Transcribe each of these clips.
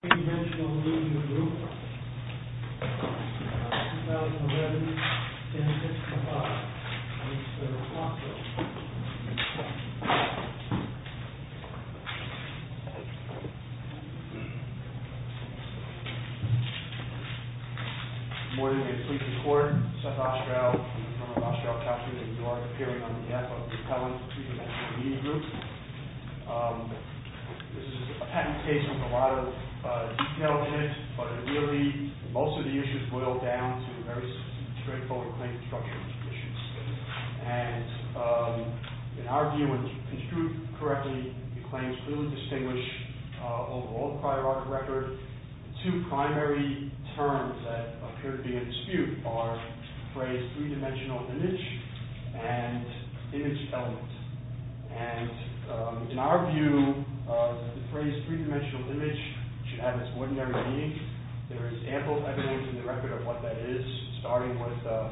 THREE-DIMENSIONAL MEDIA GROUP 2011-06-05 Good morning, we are Police Record. South Australia. We are from Australia captured in New York appearing on behalf of the Pellants Three-Dimensional Media Group. This is a patent case with a lot of detail in it, but it really, most of the issues boil down to very straightforward claims and structures and conditions. And in our view, when construed correctly, the claims clearly distinguish over all prior art record the two primary terms that appear to be in dispute are the phrase three-dimensional image and image element. And in our view, the phrase three-dimensional image should have its ordinary meaning. There is ample evidence in the record of what that is, starting with a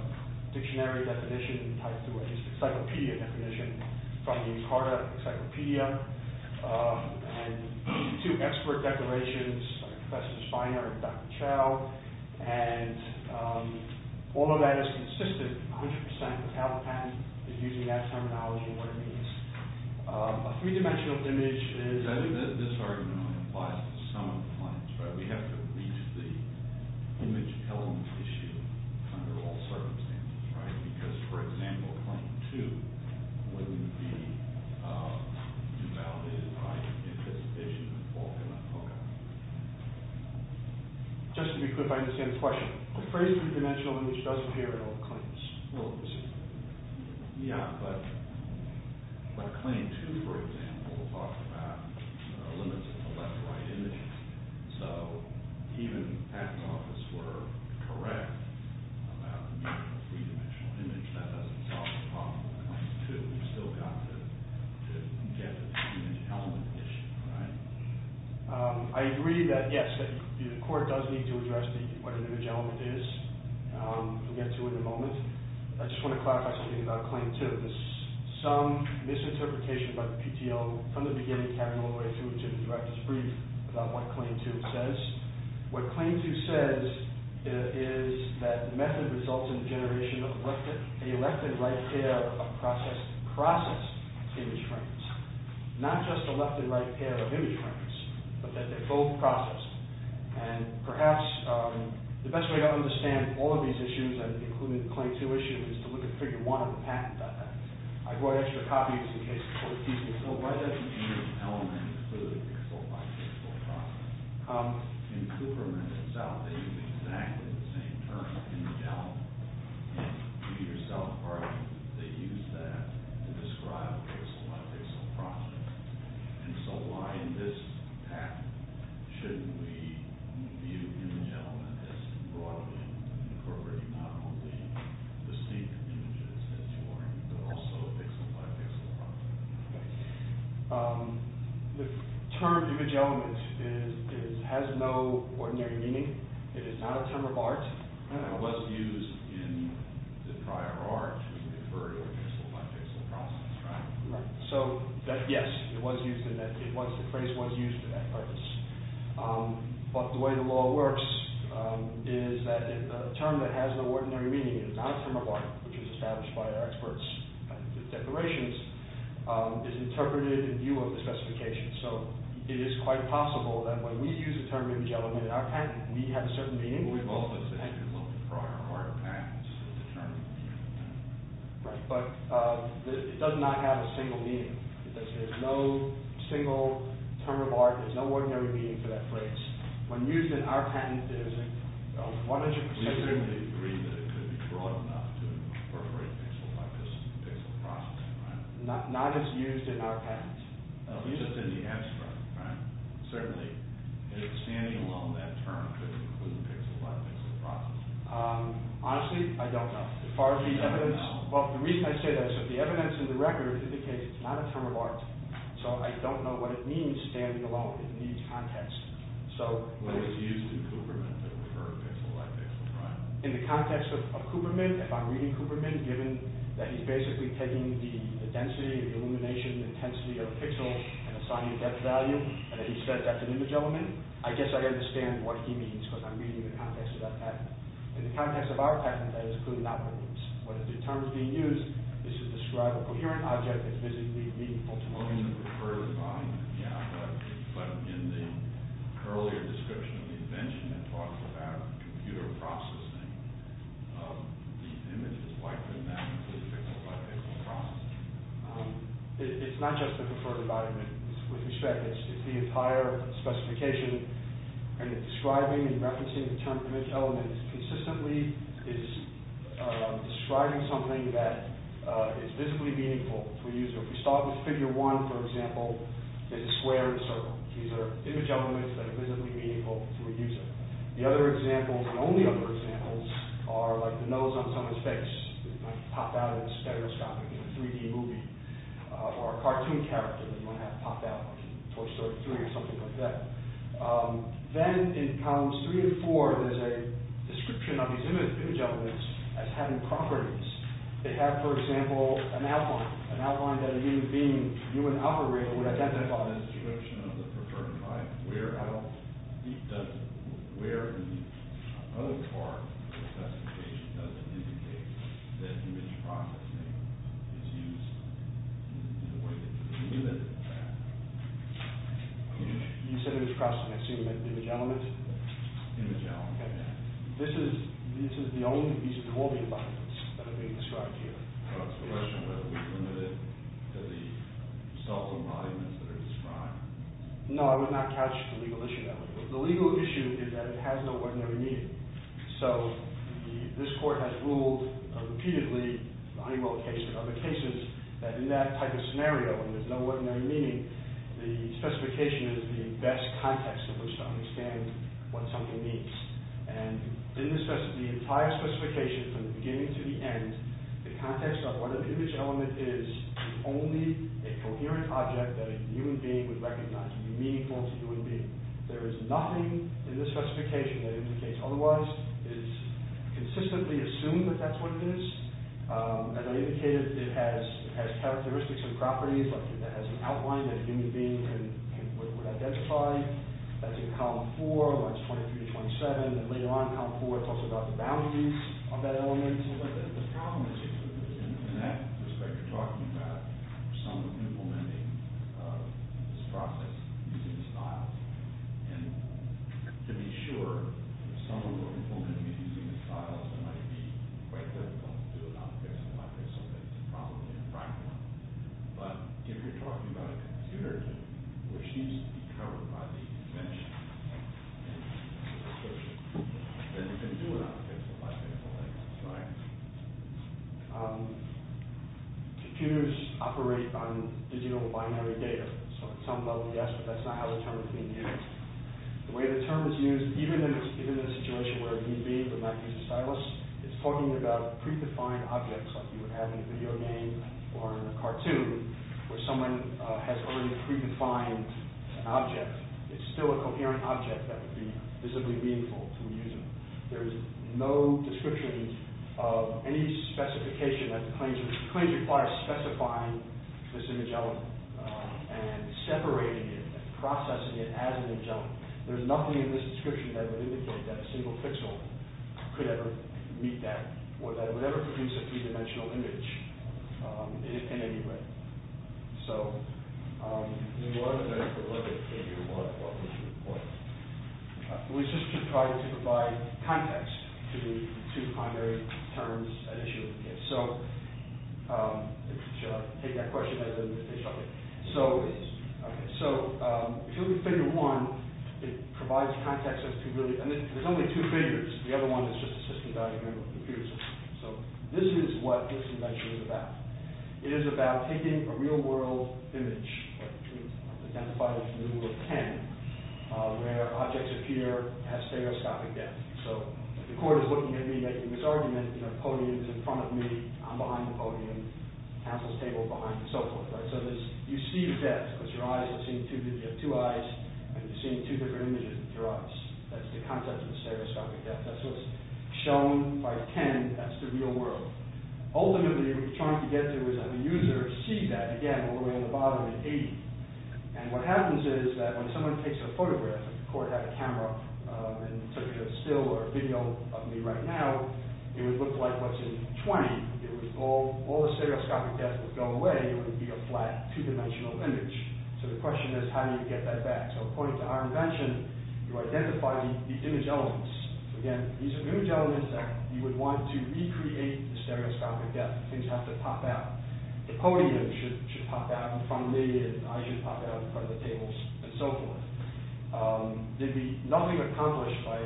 dictionary definition tied to an encyclopedia definition from the Carter Encyclopedia and two expert declarations by Professor Spiner and Dr. Chow. And all of that is consistent 100% with how the patent is using that terminology and what it means. A three-dimensional image is... I think that this argument applies to some of the claims, right? We have to reach the image element issue under all circumstances, right? Because, for example, claim two wouldn't be invalidated by anticipation of fault in that. Okay. Just to be clear, if I understand this question, the phrase three-dimensional image does appear in all the claims. Yeah, but claim two, for example, talks about the limits of the left-right image. So even if the patent office were correct about the use of a three-dimensional image, that doesn't solve the problem in claim two. We've still got to get to the image element issue, right? I agree that, yes, the court does need to address what an image element is. We'll get to it in a moment. I just want to clarify something about claim two. There's some misinterpretation by the PTO from the beginning, carrying all the way through to the director's brief, about what claim two says. What claim two says is that the method results in the generation of a left and right pair of processed image frames. Not just a left and right pair of image frames, but that they're both processed. Perhaps the best way to understand all of these issues, including claim two issues, is to look at figure one of the patent defense. I brought extra copies in case the court needs me. So why does the image element include pixel-by-pixel processing? In Cooperman and South, they use exactly the same term, in the gel. In the Peter South department, they use that to describe pixel-by-pixel processing. So why in this patent shouldn't we view image element as broadly incorporating not only the same images as you are, but also pixel-by-pixel processing? The term image element has no ordinary meaning. It is not a term of art. It was used in the prior art to refer to a pixel-by-pixel process, right? So, yes, the phrase was used for that purpose. But the way the law works is that a term that has no ordinary meaning, it is not a term of art, which was established by our experts in the declarations, is interpreted in view of the specifications. So it is quite possible that when we use the term image element in our patent, we have a certain meaning. We've always said that we've looked at prior art patents to determine the meaning of the term. But it does not have a single meaning. There's no single term of art. There's no ordinary meaning to that phrase. When used in our patent, it is 100%— We certainly agree that it could be broad enough to incorporate pixel-by-pixel processing, right? Not just used in our patent. At least it's in the abstract, right? Certainly. Is standing alone that term to include pixel-by-pixel processing? Honestly, I don't know. As far as the evidence— You don't know? Well, the reason I say that is that the evidence in the record indicates it's not a term of art. So I don't know what it means, standing alone. It needs context. Well, it's used in Cooperman to refer to pixel-by-pixel, right? In the context of Cooperman, if I'm reading Cooperman, given that he's basically taking the density, the illumination intensity of a pixel and assigning a depth value, and that he says that's an image element, I guess I'd understand what he means because I'm reading in the context of that patent. In the context of our patent, that is clearly not what it means. What if the term is being used is to describe a coherent object that's physically meaningful to most people? Well, in the preferred environment, yeah. But in the earlier description of the invention, it talks about computer processing. These images, why couldn't that include pixel-by-pixel processing? It's not just the preferred environment. With respect, it's the entire specification, and it's describing and referencing the term image element consistently is describing something that is physically meaningful to a user. If we start with Figure 1, for example, it's a square and a circle. These are image elements that are physically meaningful to a user. The other examples, and only other examples, are like the nose on someone's face. It might pop out in stereoscopic in a 3D movie, or a cartoon character that might have popped out in Toy Story 3 or something like that. Then in columns 3 and 4, there's a description of these image elements as having properties. They have, for example, an outline. An outline that a human being, a human operator, would identify. If we draw a description of the preferred environment, where in the other part of the specification does it indicate that image processing is used in a way that is limited to that? You said image processing. Excuse me, image elements? Image elements. This is the only, these are the only embodiments that are being described here. The question was whether it was limited to the self-embodiments that are described. No, I would not catch the legal issue there. The legal issue is that it has no ordinary meaning. So, this court has ruled repeatedly, the Honeywell case and other cases, that in that type of scenario, when there's no ordinary meaning, the specification is the best context in which to understand what something means. And in the entire specification, from the beginning to the end, the context of what an image element is is only a coherent object that a human being would recognize. Meaningful to a human being. There is nothing in this specification that indicates otherwise. It is consistently assumed that that's what it is. As I indicated, it has characteristics and properties, like it has an outline that a human being would identify. That's in column four, lines 23 to 27. And later on in column four, it talks about the values of that element. But the problem is, in that respect, you're talking about someone implementing this process using the styles. And to be sure, if someone were to implement it using the styles, it might be quite difficult to do it. I'm guessing it might be something that's improbably impractical. But if you're talking about a conservative, which needs to be covered by the convention, then you can do it on a piece of paper, right? Computers operate on digital binary data. So at some level, yes, but that's not how the term is being used. The way the term is used, even in a situation where a human being would not use the styles, is talking about predefined objects, like you would have in a video game or in a cartoon, where someone has already predefined an object. It's still a coherent object that would be visibly meaningful to a user. There's no description of any specification that claims to require specifying this image element and separating it and processing it as an image element. There's nothing in this description that would indicate that a single pixel could ever read that or that it would ever produce a three-dimensional image in any way. So, we will have a very quick look at what we should avoid. We should try to provide context to the two primary terms at issue. So, should I take that question? So, if you look at figure one, it provides context as to really, and there's only two figures, the other one is just a system diagram of the computer system. So, this is what this convention is about. It is about taking a real-world image, identified as the rule of ten, where objects appear at stereoscopic depth. So, if the court is looking at me making this argument, the podium is in front of me, I'm behind the podium, counsel's table behind, and so forth. So, you see depth with your eyes, you have two eyes, and you're seeing two different images with your eyes. That's the concept of stereoscopic depth. That's what's shown by ten, that's the real world. Ultimately, what we're trying to get to is that the user sees that, again, all the way on the bottom at 80. And what happens is that when someone takes a photograph, if the court had a camera and took a still or a video of me right now, it would look like what's in 20. If all the stereoscopic depth would go away, it would be a flat, two-dimensional image. So, the question is, how do you get that back? So, according to our invention, you identify the image elements. Again, these are image elements that you would want to recreate the stereoscopic depth. Things have to pop out. The podium should pop out in front of me, and I should pop out in front of the tables, and so forth. There'd be nothing accomplished by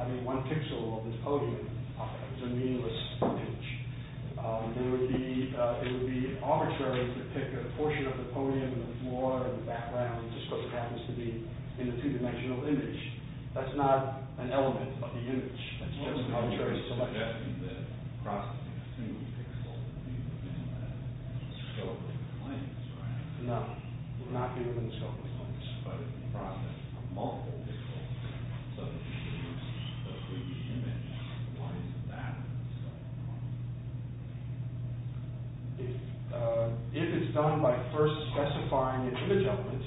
having one pixel of this podium pop out. It's a meaningless image. It would be arbitrary to pick a portion of the podium, and the floor, and the background, just so it happens to be in a two-dimensional image. That's not an element, but the image. That's just an arbitrary selection. If it's done by first specifying an image element,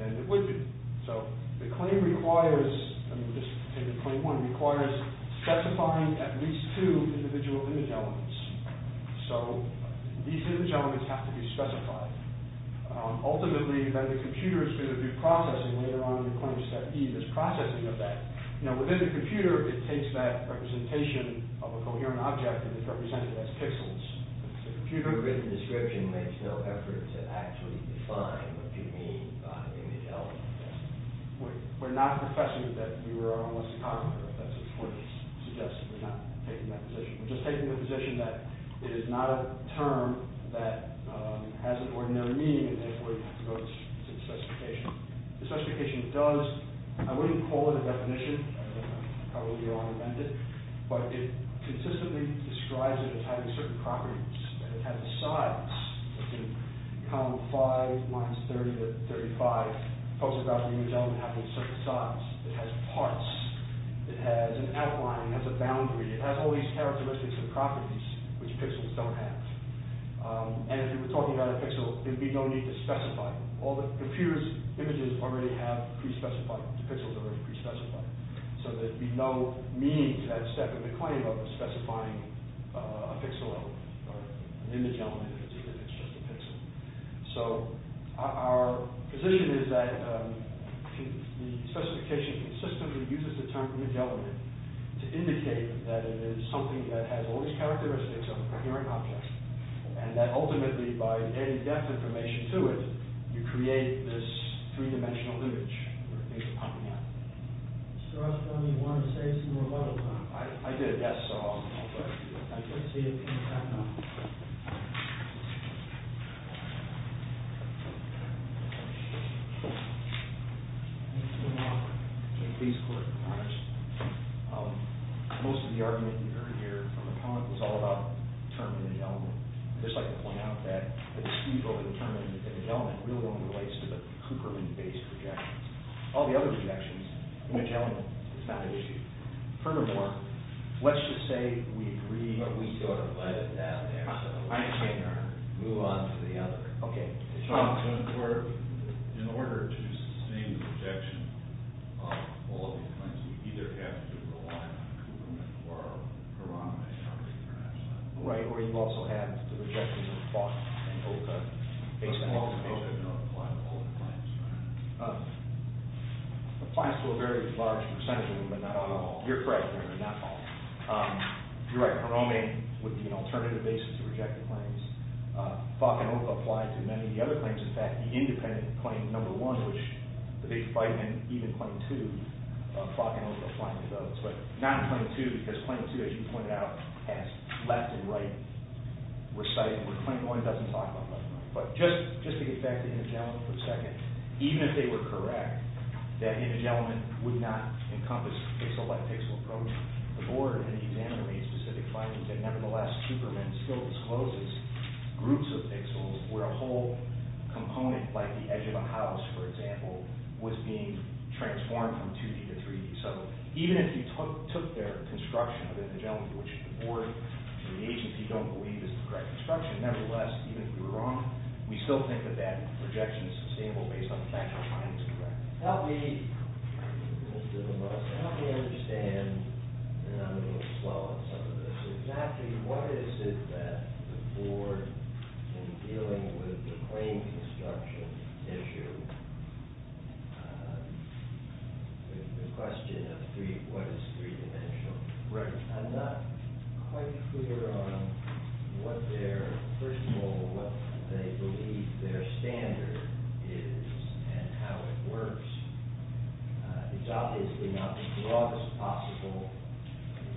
then it would be. So, the claim requires, I'm just taking claim one, requires specifying at least two individual image elements. So, these image elements have to be specified. Ultimately, then the computer is going to do processing later on in claim step E, this processing of that. Now, within the computer, it takes that representation of a coherent object, and it represents it as pixels. The computer-written description makes no effort to actually define what you mean by image element. We're not professing that you are a homo-psychographer. That's what's suggested. We're not taking that position. We're just taking the position that it is not a term that has an ordinary meaning, and therefore, you have to go to the specification. The specification does, I wouldn't call it a definition. That would probably be all invented. But it consistently describes it as having certain properties. It has a size. It can become 5 minus 30 to 35. Post-apocalyptic image element having certain size. It has parts. It has an outline. It has a boundary. It has all these characteristics and properties which pixels don't have. And if we were talking about a pixel, there'd be no need to specify them. All the computer's images already have pre-specified, the pixels are already pre-specified. So there'd be no meaning to that step of the claim of specifying a pixel or an image element if it's just a pixel. So our position is that the specification consistently uses the term image element to indicate that it is something that has all these characteristics of a hearing object, and that ultimately, by adding depth information to it, you create this three-dimensional image where things are popping up. Sir, I was wondering if you wanted to say some more about it. I did, yes, so I'll go ahead and do it. I can't see it because of the background. Thank you very much. Most of the argument you heard here from the comment was all about the term image element. I'd just like to point out that the dispute over the term image element really only relates to the Cooperman-based projections. All the other projections, image element, it's not an issue. Furthermore, let's just say we agree that we sort of let it down there so we can't move on to the other. In order to sustain the projection of all of these claims, we either have to rely on Cooperman or Hiram and others internationally. Right, or you also have the projections of Falk and Olka. Applies to a very large percentage of them, but not all of them. You're right, not all. You're right, Hiram would be an alternative basis to reject the claims. Falk and Olka apply to many of the other claims. In fact, the independent claim number one, which the big fight in even claim two, Falk and Olka applying to those. But not in claim two, because claim two, as you pointed out, has left and right reciting. Claim one doesn't talk about left and right. But just to get back to image element for a second, even if they were correct, that image element would not encompass a select pixel approach. The board and the examiner made specific findings that nevertheless Cooperman still discloses groups of pixels where a whole component, like the edge of a house, for example, was being transformed from 2D to 3D. So even if you took their construction which the board and the agency don't believe is the correct construction, nevertheless, even if we were wrong, we still think that that projection is sustainable based on the fact that the findings are correct. Help me understand, and I'm going to slow up some of this, exactly what is it that the board in dealing with the claim construction issue and the question of what is three-dimensional. I'm not quite clear on what their, first of all, what they believe their standard is and how it works. It's obviously not the broadest possible,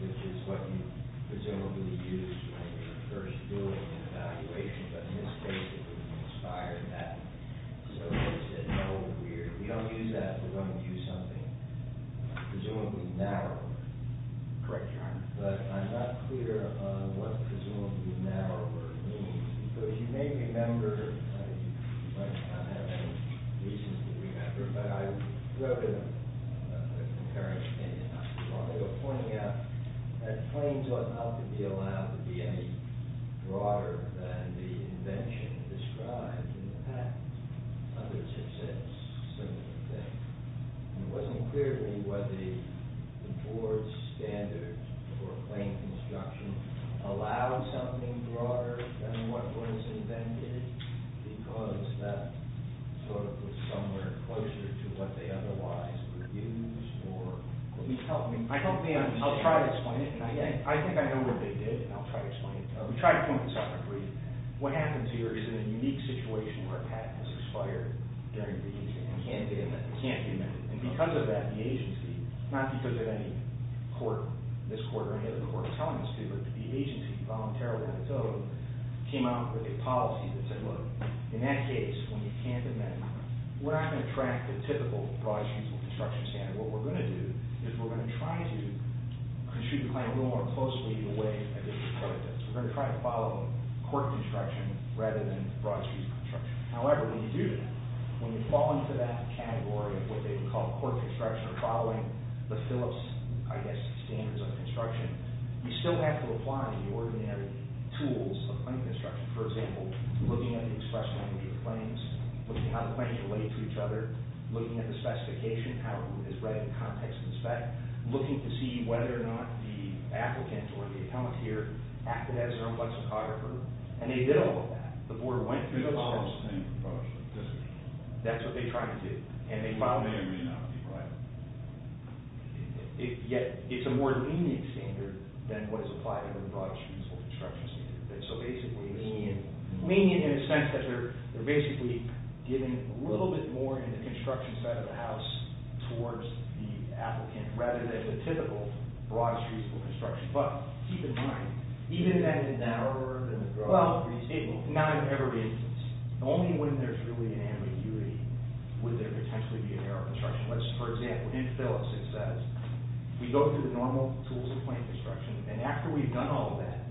which is what you presumably use when you're first doing an evaluation, but in this case, it wouldn't inspire that. So they said, no, we don't use that when we're going to do something presumably narrower. But I'm not clear on what presumably narrower means, because you may remember, you might not have any reason to remember, but I wrote in a comparing opinion while they were pointing out that claims ought not to be allowed to be any broader than the invention described in the patent. Others have said a similar thing. And it wasn't clear to me whether the board's standard for claim construction allowed something broader than what was invented because that sort of was somewhere closer to what they otherwise would use, or... Could you help me? I'll try to explain it. I think I know what they did, and I'll try to explain it. We tried to point this out briefly. What happens here is in a unique situation where a patent is expired during the agency. It can't be amended. And because of that, the agency, not because of any court, this court or any other court telling us to, but the agency voluntarily on its own came out with a policy that said, look, in that case, when you can't amend it, we're not going to track the typical broad construction standard. What we're going to do is we're going to try to construe the claim a little more closely the way a district court does. We're going to try to follow court construction rather than broad street construction. However, when you do that, when you fall into that category of what they would call court construction or following the Phillips, I guess, standards of construction, you still have to apply the ordinary tools of claim construction. For example, looking at the express language of claims, looking at how the claims relate to each other, looking at the specification, how it is read in context and spec, looking to see whether or not the applicant or the appellant here acted as their own lexicographer. And they did all of that. The board went through all of that. That's what they tried to do. Yet, it's a more lenient standard than what is applied to the broad street construction standard. So basically, lenient in the sense that they're basically giving a little bit more in the construction side of the house towards the applicant rather than the typical broad street construction. But keep in mind, even if that is narrower than the broad street, not in every instance, only when there's really an ambiguity would there potentially be a narrow construction. For example, in Phillips, it says we go through the normal tools of claim construction and after we've done all of that,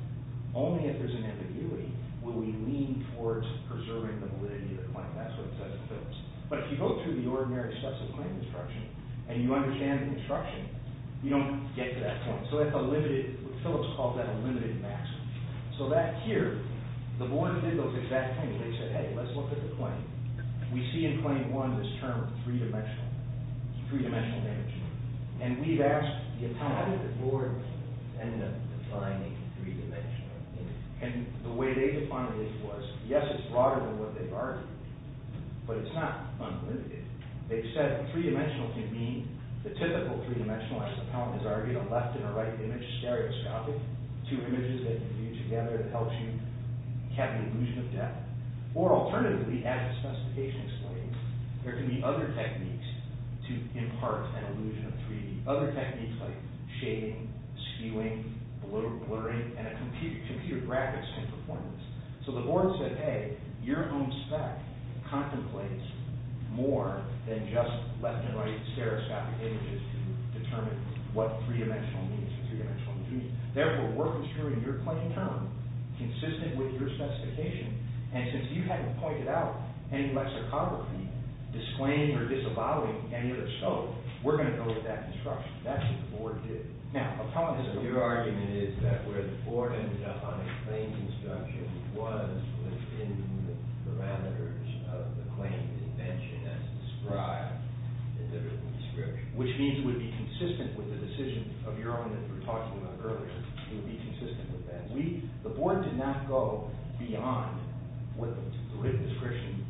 only if there's an ambiguity will we lean towards preserving the validity of the claim. That's what it says in Phillips. But if you go through the ordinary steps of claim construction and you understand the construction, you don't get to that point. So that's a limited... Phillips called that a limited maximum. So back here, the board did those exact things. They said, hey, let's look at the claim. We see in claim one this term three-dimensional, three-dimensional damage. And we've asked the appellant, how did the board end up defining three-dimensional damage? And the way they defined it was, yes, it's broader than what they've argued, but it's not unlimited. They've said three-dimensional can mean the typical three-dimensional, as the appellant has argued, a left and a right image stereoscopic, two images that you view together that helps you have an illusion of depth. Or alternatively, as the specification explains, there can be other techniques to impart an illusion of 3D, other techniques like shading, skewing, blurring, and a computer graphics in performance. So the board said, hey, your own spec contemplates more than just left and right stereoscopic images to determine what three-dimensional means, what three-dimensional means. Therefore, we're construing your claim term consistent with your specification, and since you haven't pointed out any lexicography disclaiming or disavowing any other scope, we're going to go with that construction. That's what the board did. Now, upon this, your argument is that where the board ended up on a claim construction was within the parameters of the claim invention as described in the written description. Which means it would be consistent with the decision of your argument that we were talking about earlier. It would be consistent with that. The board did not go beyond what the written description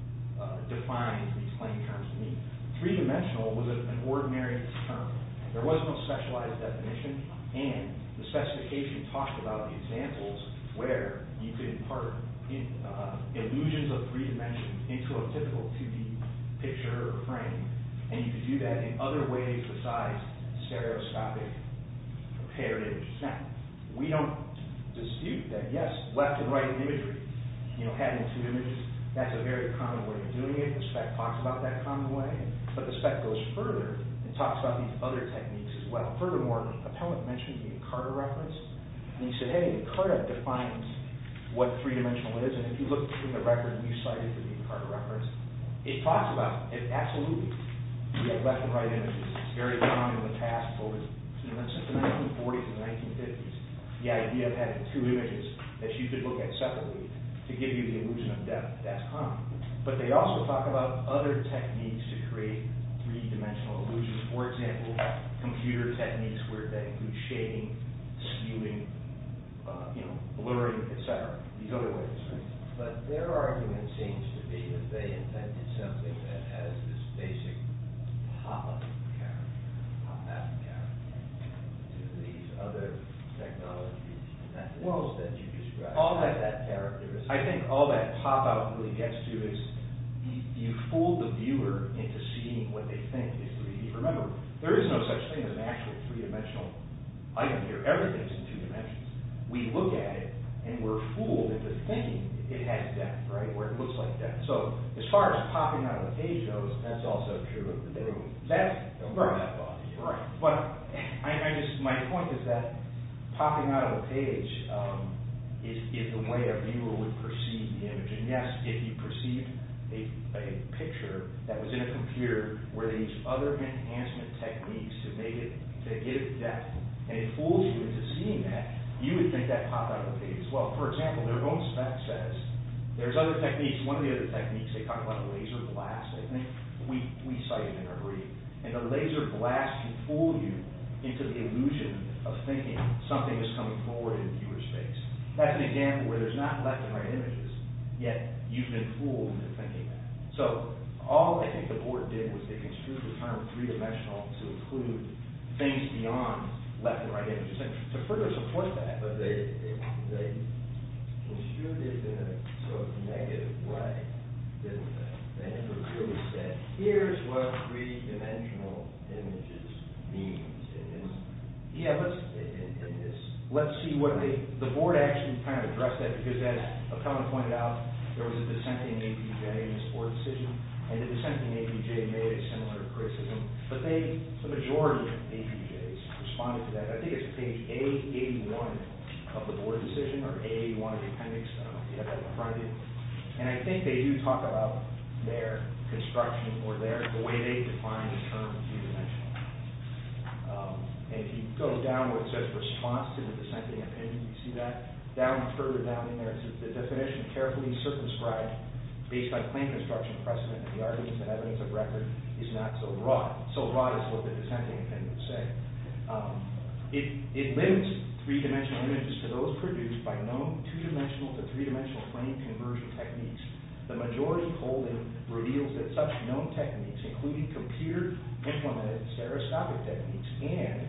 defined these claim terms to mean. Three-dimensional was an ordinary term. There was no specialized definition, and the specification talked about the examples where you could impart illusions of three dimensions into a typical 2D picture or frame, and you could do that in other ways besides stereoscopic parity. Now, we don't dispute that, yes, left and right imagery, having two images, that's a very common way of doing it. The spec talks about that common way, but the spec goes further and talks about these other techniques as well. Furthermore, Appellant mentioned the Encarta reference, and he said, hey, Encarta defines what three-dimensional is, and if you look in the record you cited for the Encarta reference, it talks about it absolutely. We have left and right images. It's very common in the past. For instance, in the 1940s and 1950s, the idea of having two images that you could look at separately to give you the illusion of depth, that's common. But they also talk about other techniques to create three-dimensional illusions. For example, computer techniques where they include shading, skewing, blurring, etc., these other ways. But their argument seems to be that they invented something that has this basic pop-up character, pop-out character, to these other technologies in that world that you described. All that pop-out really gets to is you fool the viewer into seeing what they think is 3D. Remember, there is no such thing as an actual three-dimensional item here. Everything is in two dimensions. We look at it, and we're fooled into thinking it has depth, right, or it looks like depth. So, as far as popping out of a page goes, that's also true of the video. That's a rough idea. But my point is that popping out of a page is the way a viewer would perceive the image. And yes, if you perceive a picture that was in a computer where these other enhancement techniques to give depth, and it fools you into seeing that, you would think that pop-out of a page as well. For example, their own spec says there's other techniques, one of the other techniques, they talk about a laser blast. I think we cite it in our brief. And the laser blast can fool you into the illusion of thinking something is coming forward in the viewer's face. That's an example where there's not left and right images, yet you've been fooled into thinking that. So, all I think the board did was they construed the term three-dimensional to include things beyond left and right images. To further support that, they construed it in a sort of negative way. They never really said, here's what three-dimensional images mean. Yeah, let's see what they... The board actually kind of addressed that because, as Appellant pointed out, there was a dissent in APJ in this board decision, and the dissent in APJ made a similar criticism. But the majority of APJs responded to that. I think it's page A81 of the board decision or A81 of the appendix. I don't know if you have that in front of you. And I think they do talk about their construction or the way they define the term three-dimensional. And if you go down where it says response to the dissenting opinion, you see that. Further down in there, it says the definition carefully circumscribed based on claim construction precedent and the arguments and evidence of record is not so raw. So raw is what the dissenting opinion would say. It links three-dimensional images to those produced by known two-dimensional to three-dimensional frame conversion techniques. The majority polling reveals that such known techniques, including computer-implemented stereoscopic techniques and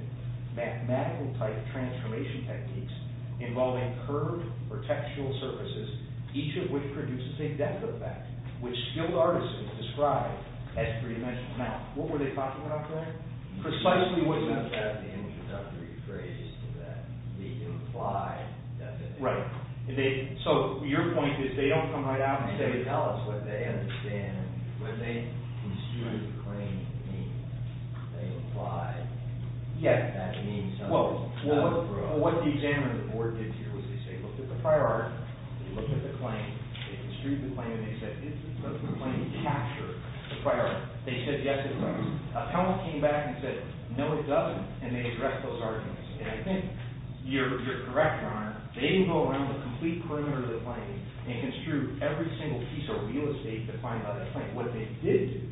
mathematical-type transformation techniques involving curved or textural surfaces, each of which produces a depth effect, which skilled artisans describe as three-dimensional. Now, what were they talking about there? Precisely what's in effect. Right. So your point is, they don't come right out and say... Yeah. Well, what the examiners of the board did here was they say, looked at the prior art, they looked at the claim, they construed the claim, and they said, does the claim capture the prior art? They said, yes, it does. Appellant came back and said, no, it doesn't. And they addressed those arguments. And I think you're correct, Your Honor. They didn't go around the complete perimeter of the claim and construe every single piece of real estate defined by that claim. What they did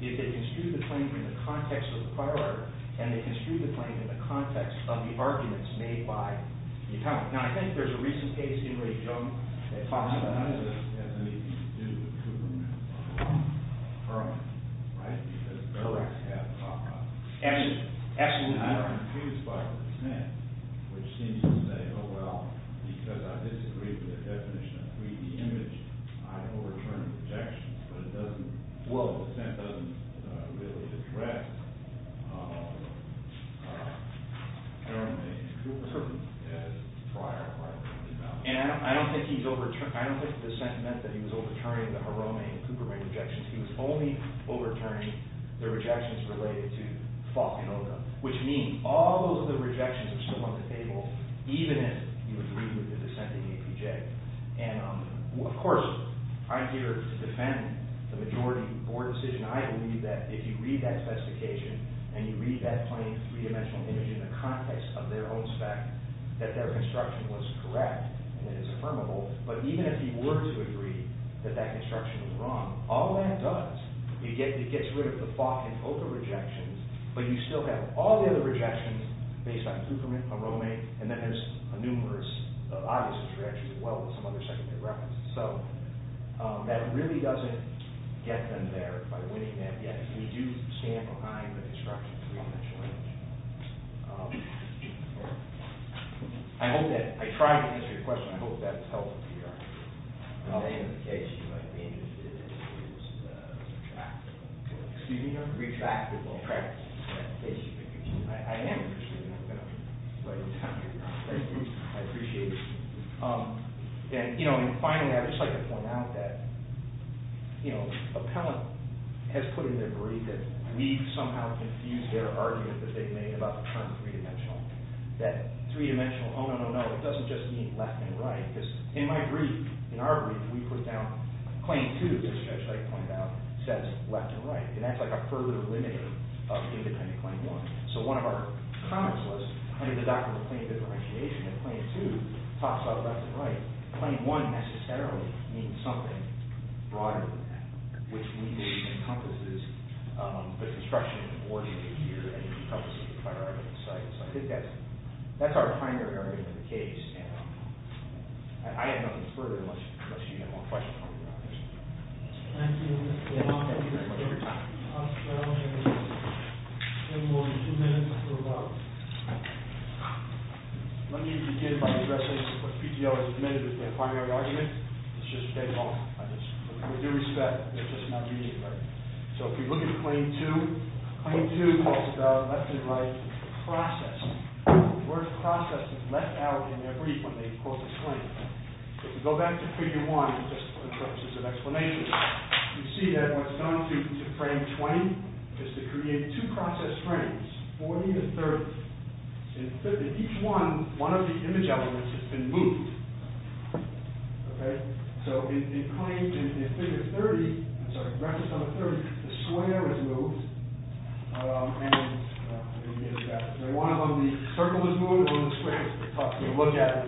do is they construed the claim in the context of the prior art, and they construed the claim in the context of the arguments made by the appellant. Now, I think there's a recent case, anybody know it? It talks about... It has anything to do with Cooperman. Right? Because... Absolutely. I'm confused by the dissent, which seems to say, oh, well, because I disagree with the definition of 3-D image, I overturn the objections, but it doesn't... Well, the dissent doesn't really address... And I don't think he's overturned... I don't think the dissent meant that he was overturning the Haromei and Cooperman objections. He was only overturning the rejections related to Falkenoga, which means all of the rejections are still on the table, even if you agree with the dissent of the APJ. And, of course, I'm here to defend the majority board decision. I believe that if you read that specification and you read that plain three-dimensional image in the context of their own spec, that their construction was correct and it is affirmable. But even if you were to agree that that construction was wrong, all that does, it gets rid of the Falkenoga rejections, but you still have all the other rejections based on Cooperman, Haromei, and then there's a numerous... Obviously, it's actually as well as some other secondary references. So, that really doesn't get them there by winning that yet. We do stand behind the construction of the three-dimensional image. I hope that... I tried to answer your question. I hope that's helpful to you. In the name of the case, you might be interested in the use of retractable... Excuse me, Your Honor? Retractable. Correct. I am interested in that, but I'm going to let you down. I appreciate it. And, you know, and finally, I'd just like to point out that, you know, appellant has put in their brief that we've somehow confused their argument that they made about the term three-dimensional, that three-dimensional, oh, no, no, no, it doesn't just mean left and right, because in my brief, in our brief, we put down claim two, as Judge Wright pointed out, says left and right, and that's like a further limiter of independent claim one. So, one of our comments was, under the doctrine of claim differentiation, that claim two talks about left and right. Claim one necessarily means something broader than that, which legally encompasses the construction of the board in a year and it encompasses the priority of the site. So, I think that's, that's our primary argument of the case, and I have nothing further unless you have more questions. Thank you. Thank you very much. Have a good time. Let me begin by addressing what PTO has admitted is their primary argument. It's just a case of, with due respect, it's just not being heard. So, if you look at claim two, claim two is left and right as a process. The word process is left out in their brief when they quote the claim. If you go back to figure one, just for the purposes of explanation, you see that what's known to frame 20 is to create two process frames, 40 to 30. In each one, one of the image elements has been moved. Okay? So, in claim, in figure 30, I'm sorry, reference number 30, the square is moved, and one of them, the circle is moved, one of the squares is moved. It's tough to look at.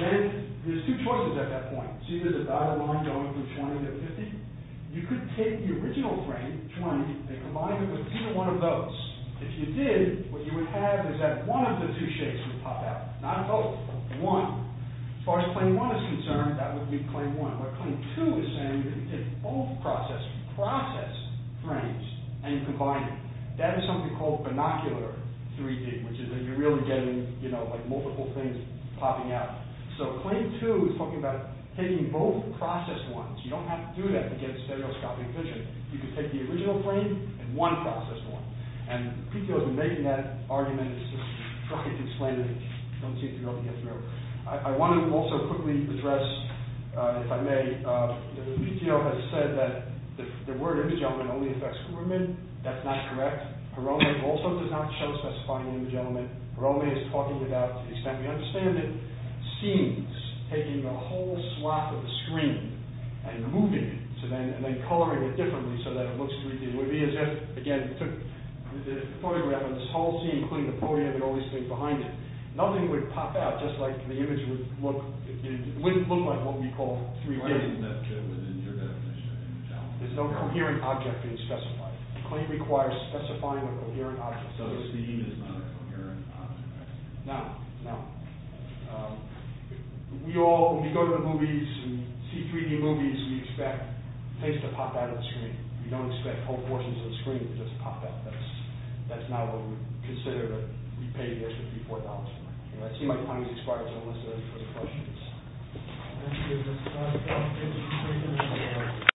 Then, there's two choices at that point. See, there's a dotted line going from 20 to 50. You could take the original frame, 20, and combine it with either one of those. If you did, what you would have is that one of the two shapes would pop out, not both, one. As far as claim one is concerned, that would be claim one. But claim two is saying that if you take both processes, process frames, and you combine them, that is something called binocular 3D, which is that you're really getting, you know, like multiple things popping out. So, claim two is talking about taking both process ones. You don't have to do that to get stereoscopic vision. You can take the original frame and one process one. And PTO has been making that argument and it's just tricky to explain it and don't seem to be able to get through. I want to also quickly address, if I may, PTO has said that the word image element only affects Kuberman. That's not correct. Hiromi also does not show specified image element. Hiromi is talking about, to the extent we understand it, scenes, taking a whole swath of the screen and moving it and then coloring it differently so that it looks 3D. It would be as if, again, we took the photograph and this whole scene, including the podium and all these things behind it, nothing would pop out just like the image would look, it wouldn't look like what we call 3D. There's no coherent object being specified. The claim requires specifying a coherent object. No, no. We all, when we go to the movies and see 3D movies, we expect things to pop out of the screen. We don't expect whole portions of the screen to just pop out of us. That's not what we would consider that we paid $54 for. I see my time has expired so let's go to the questions. Thank you.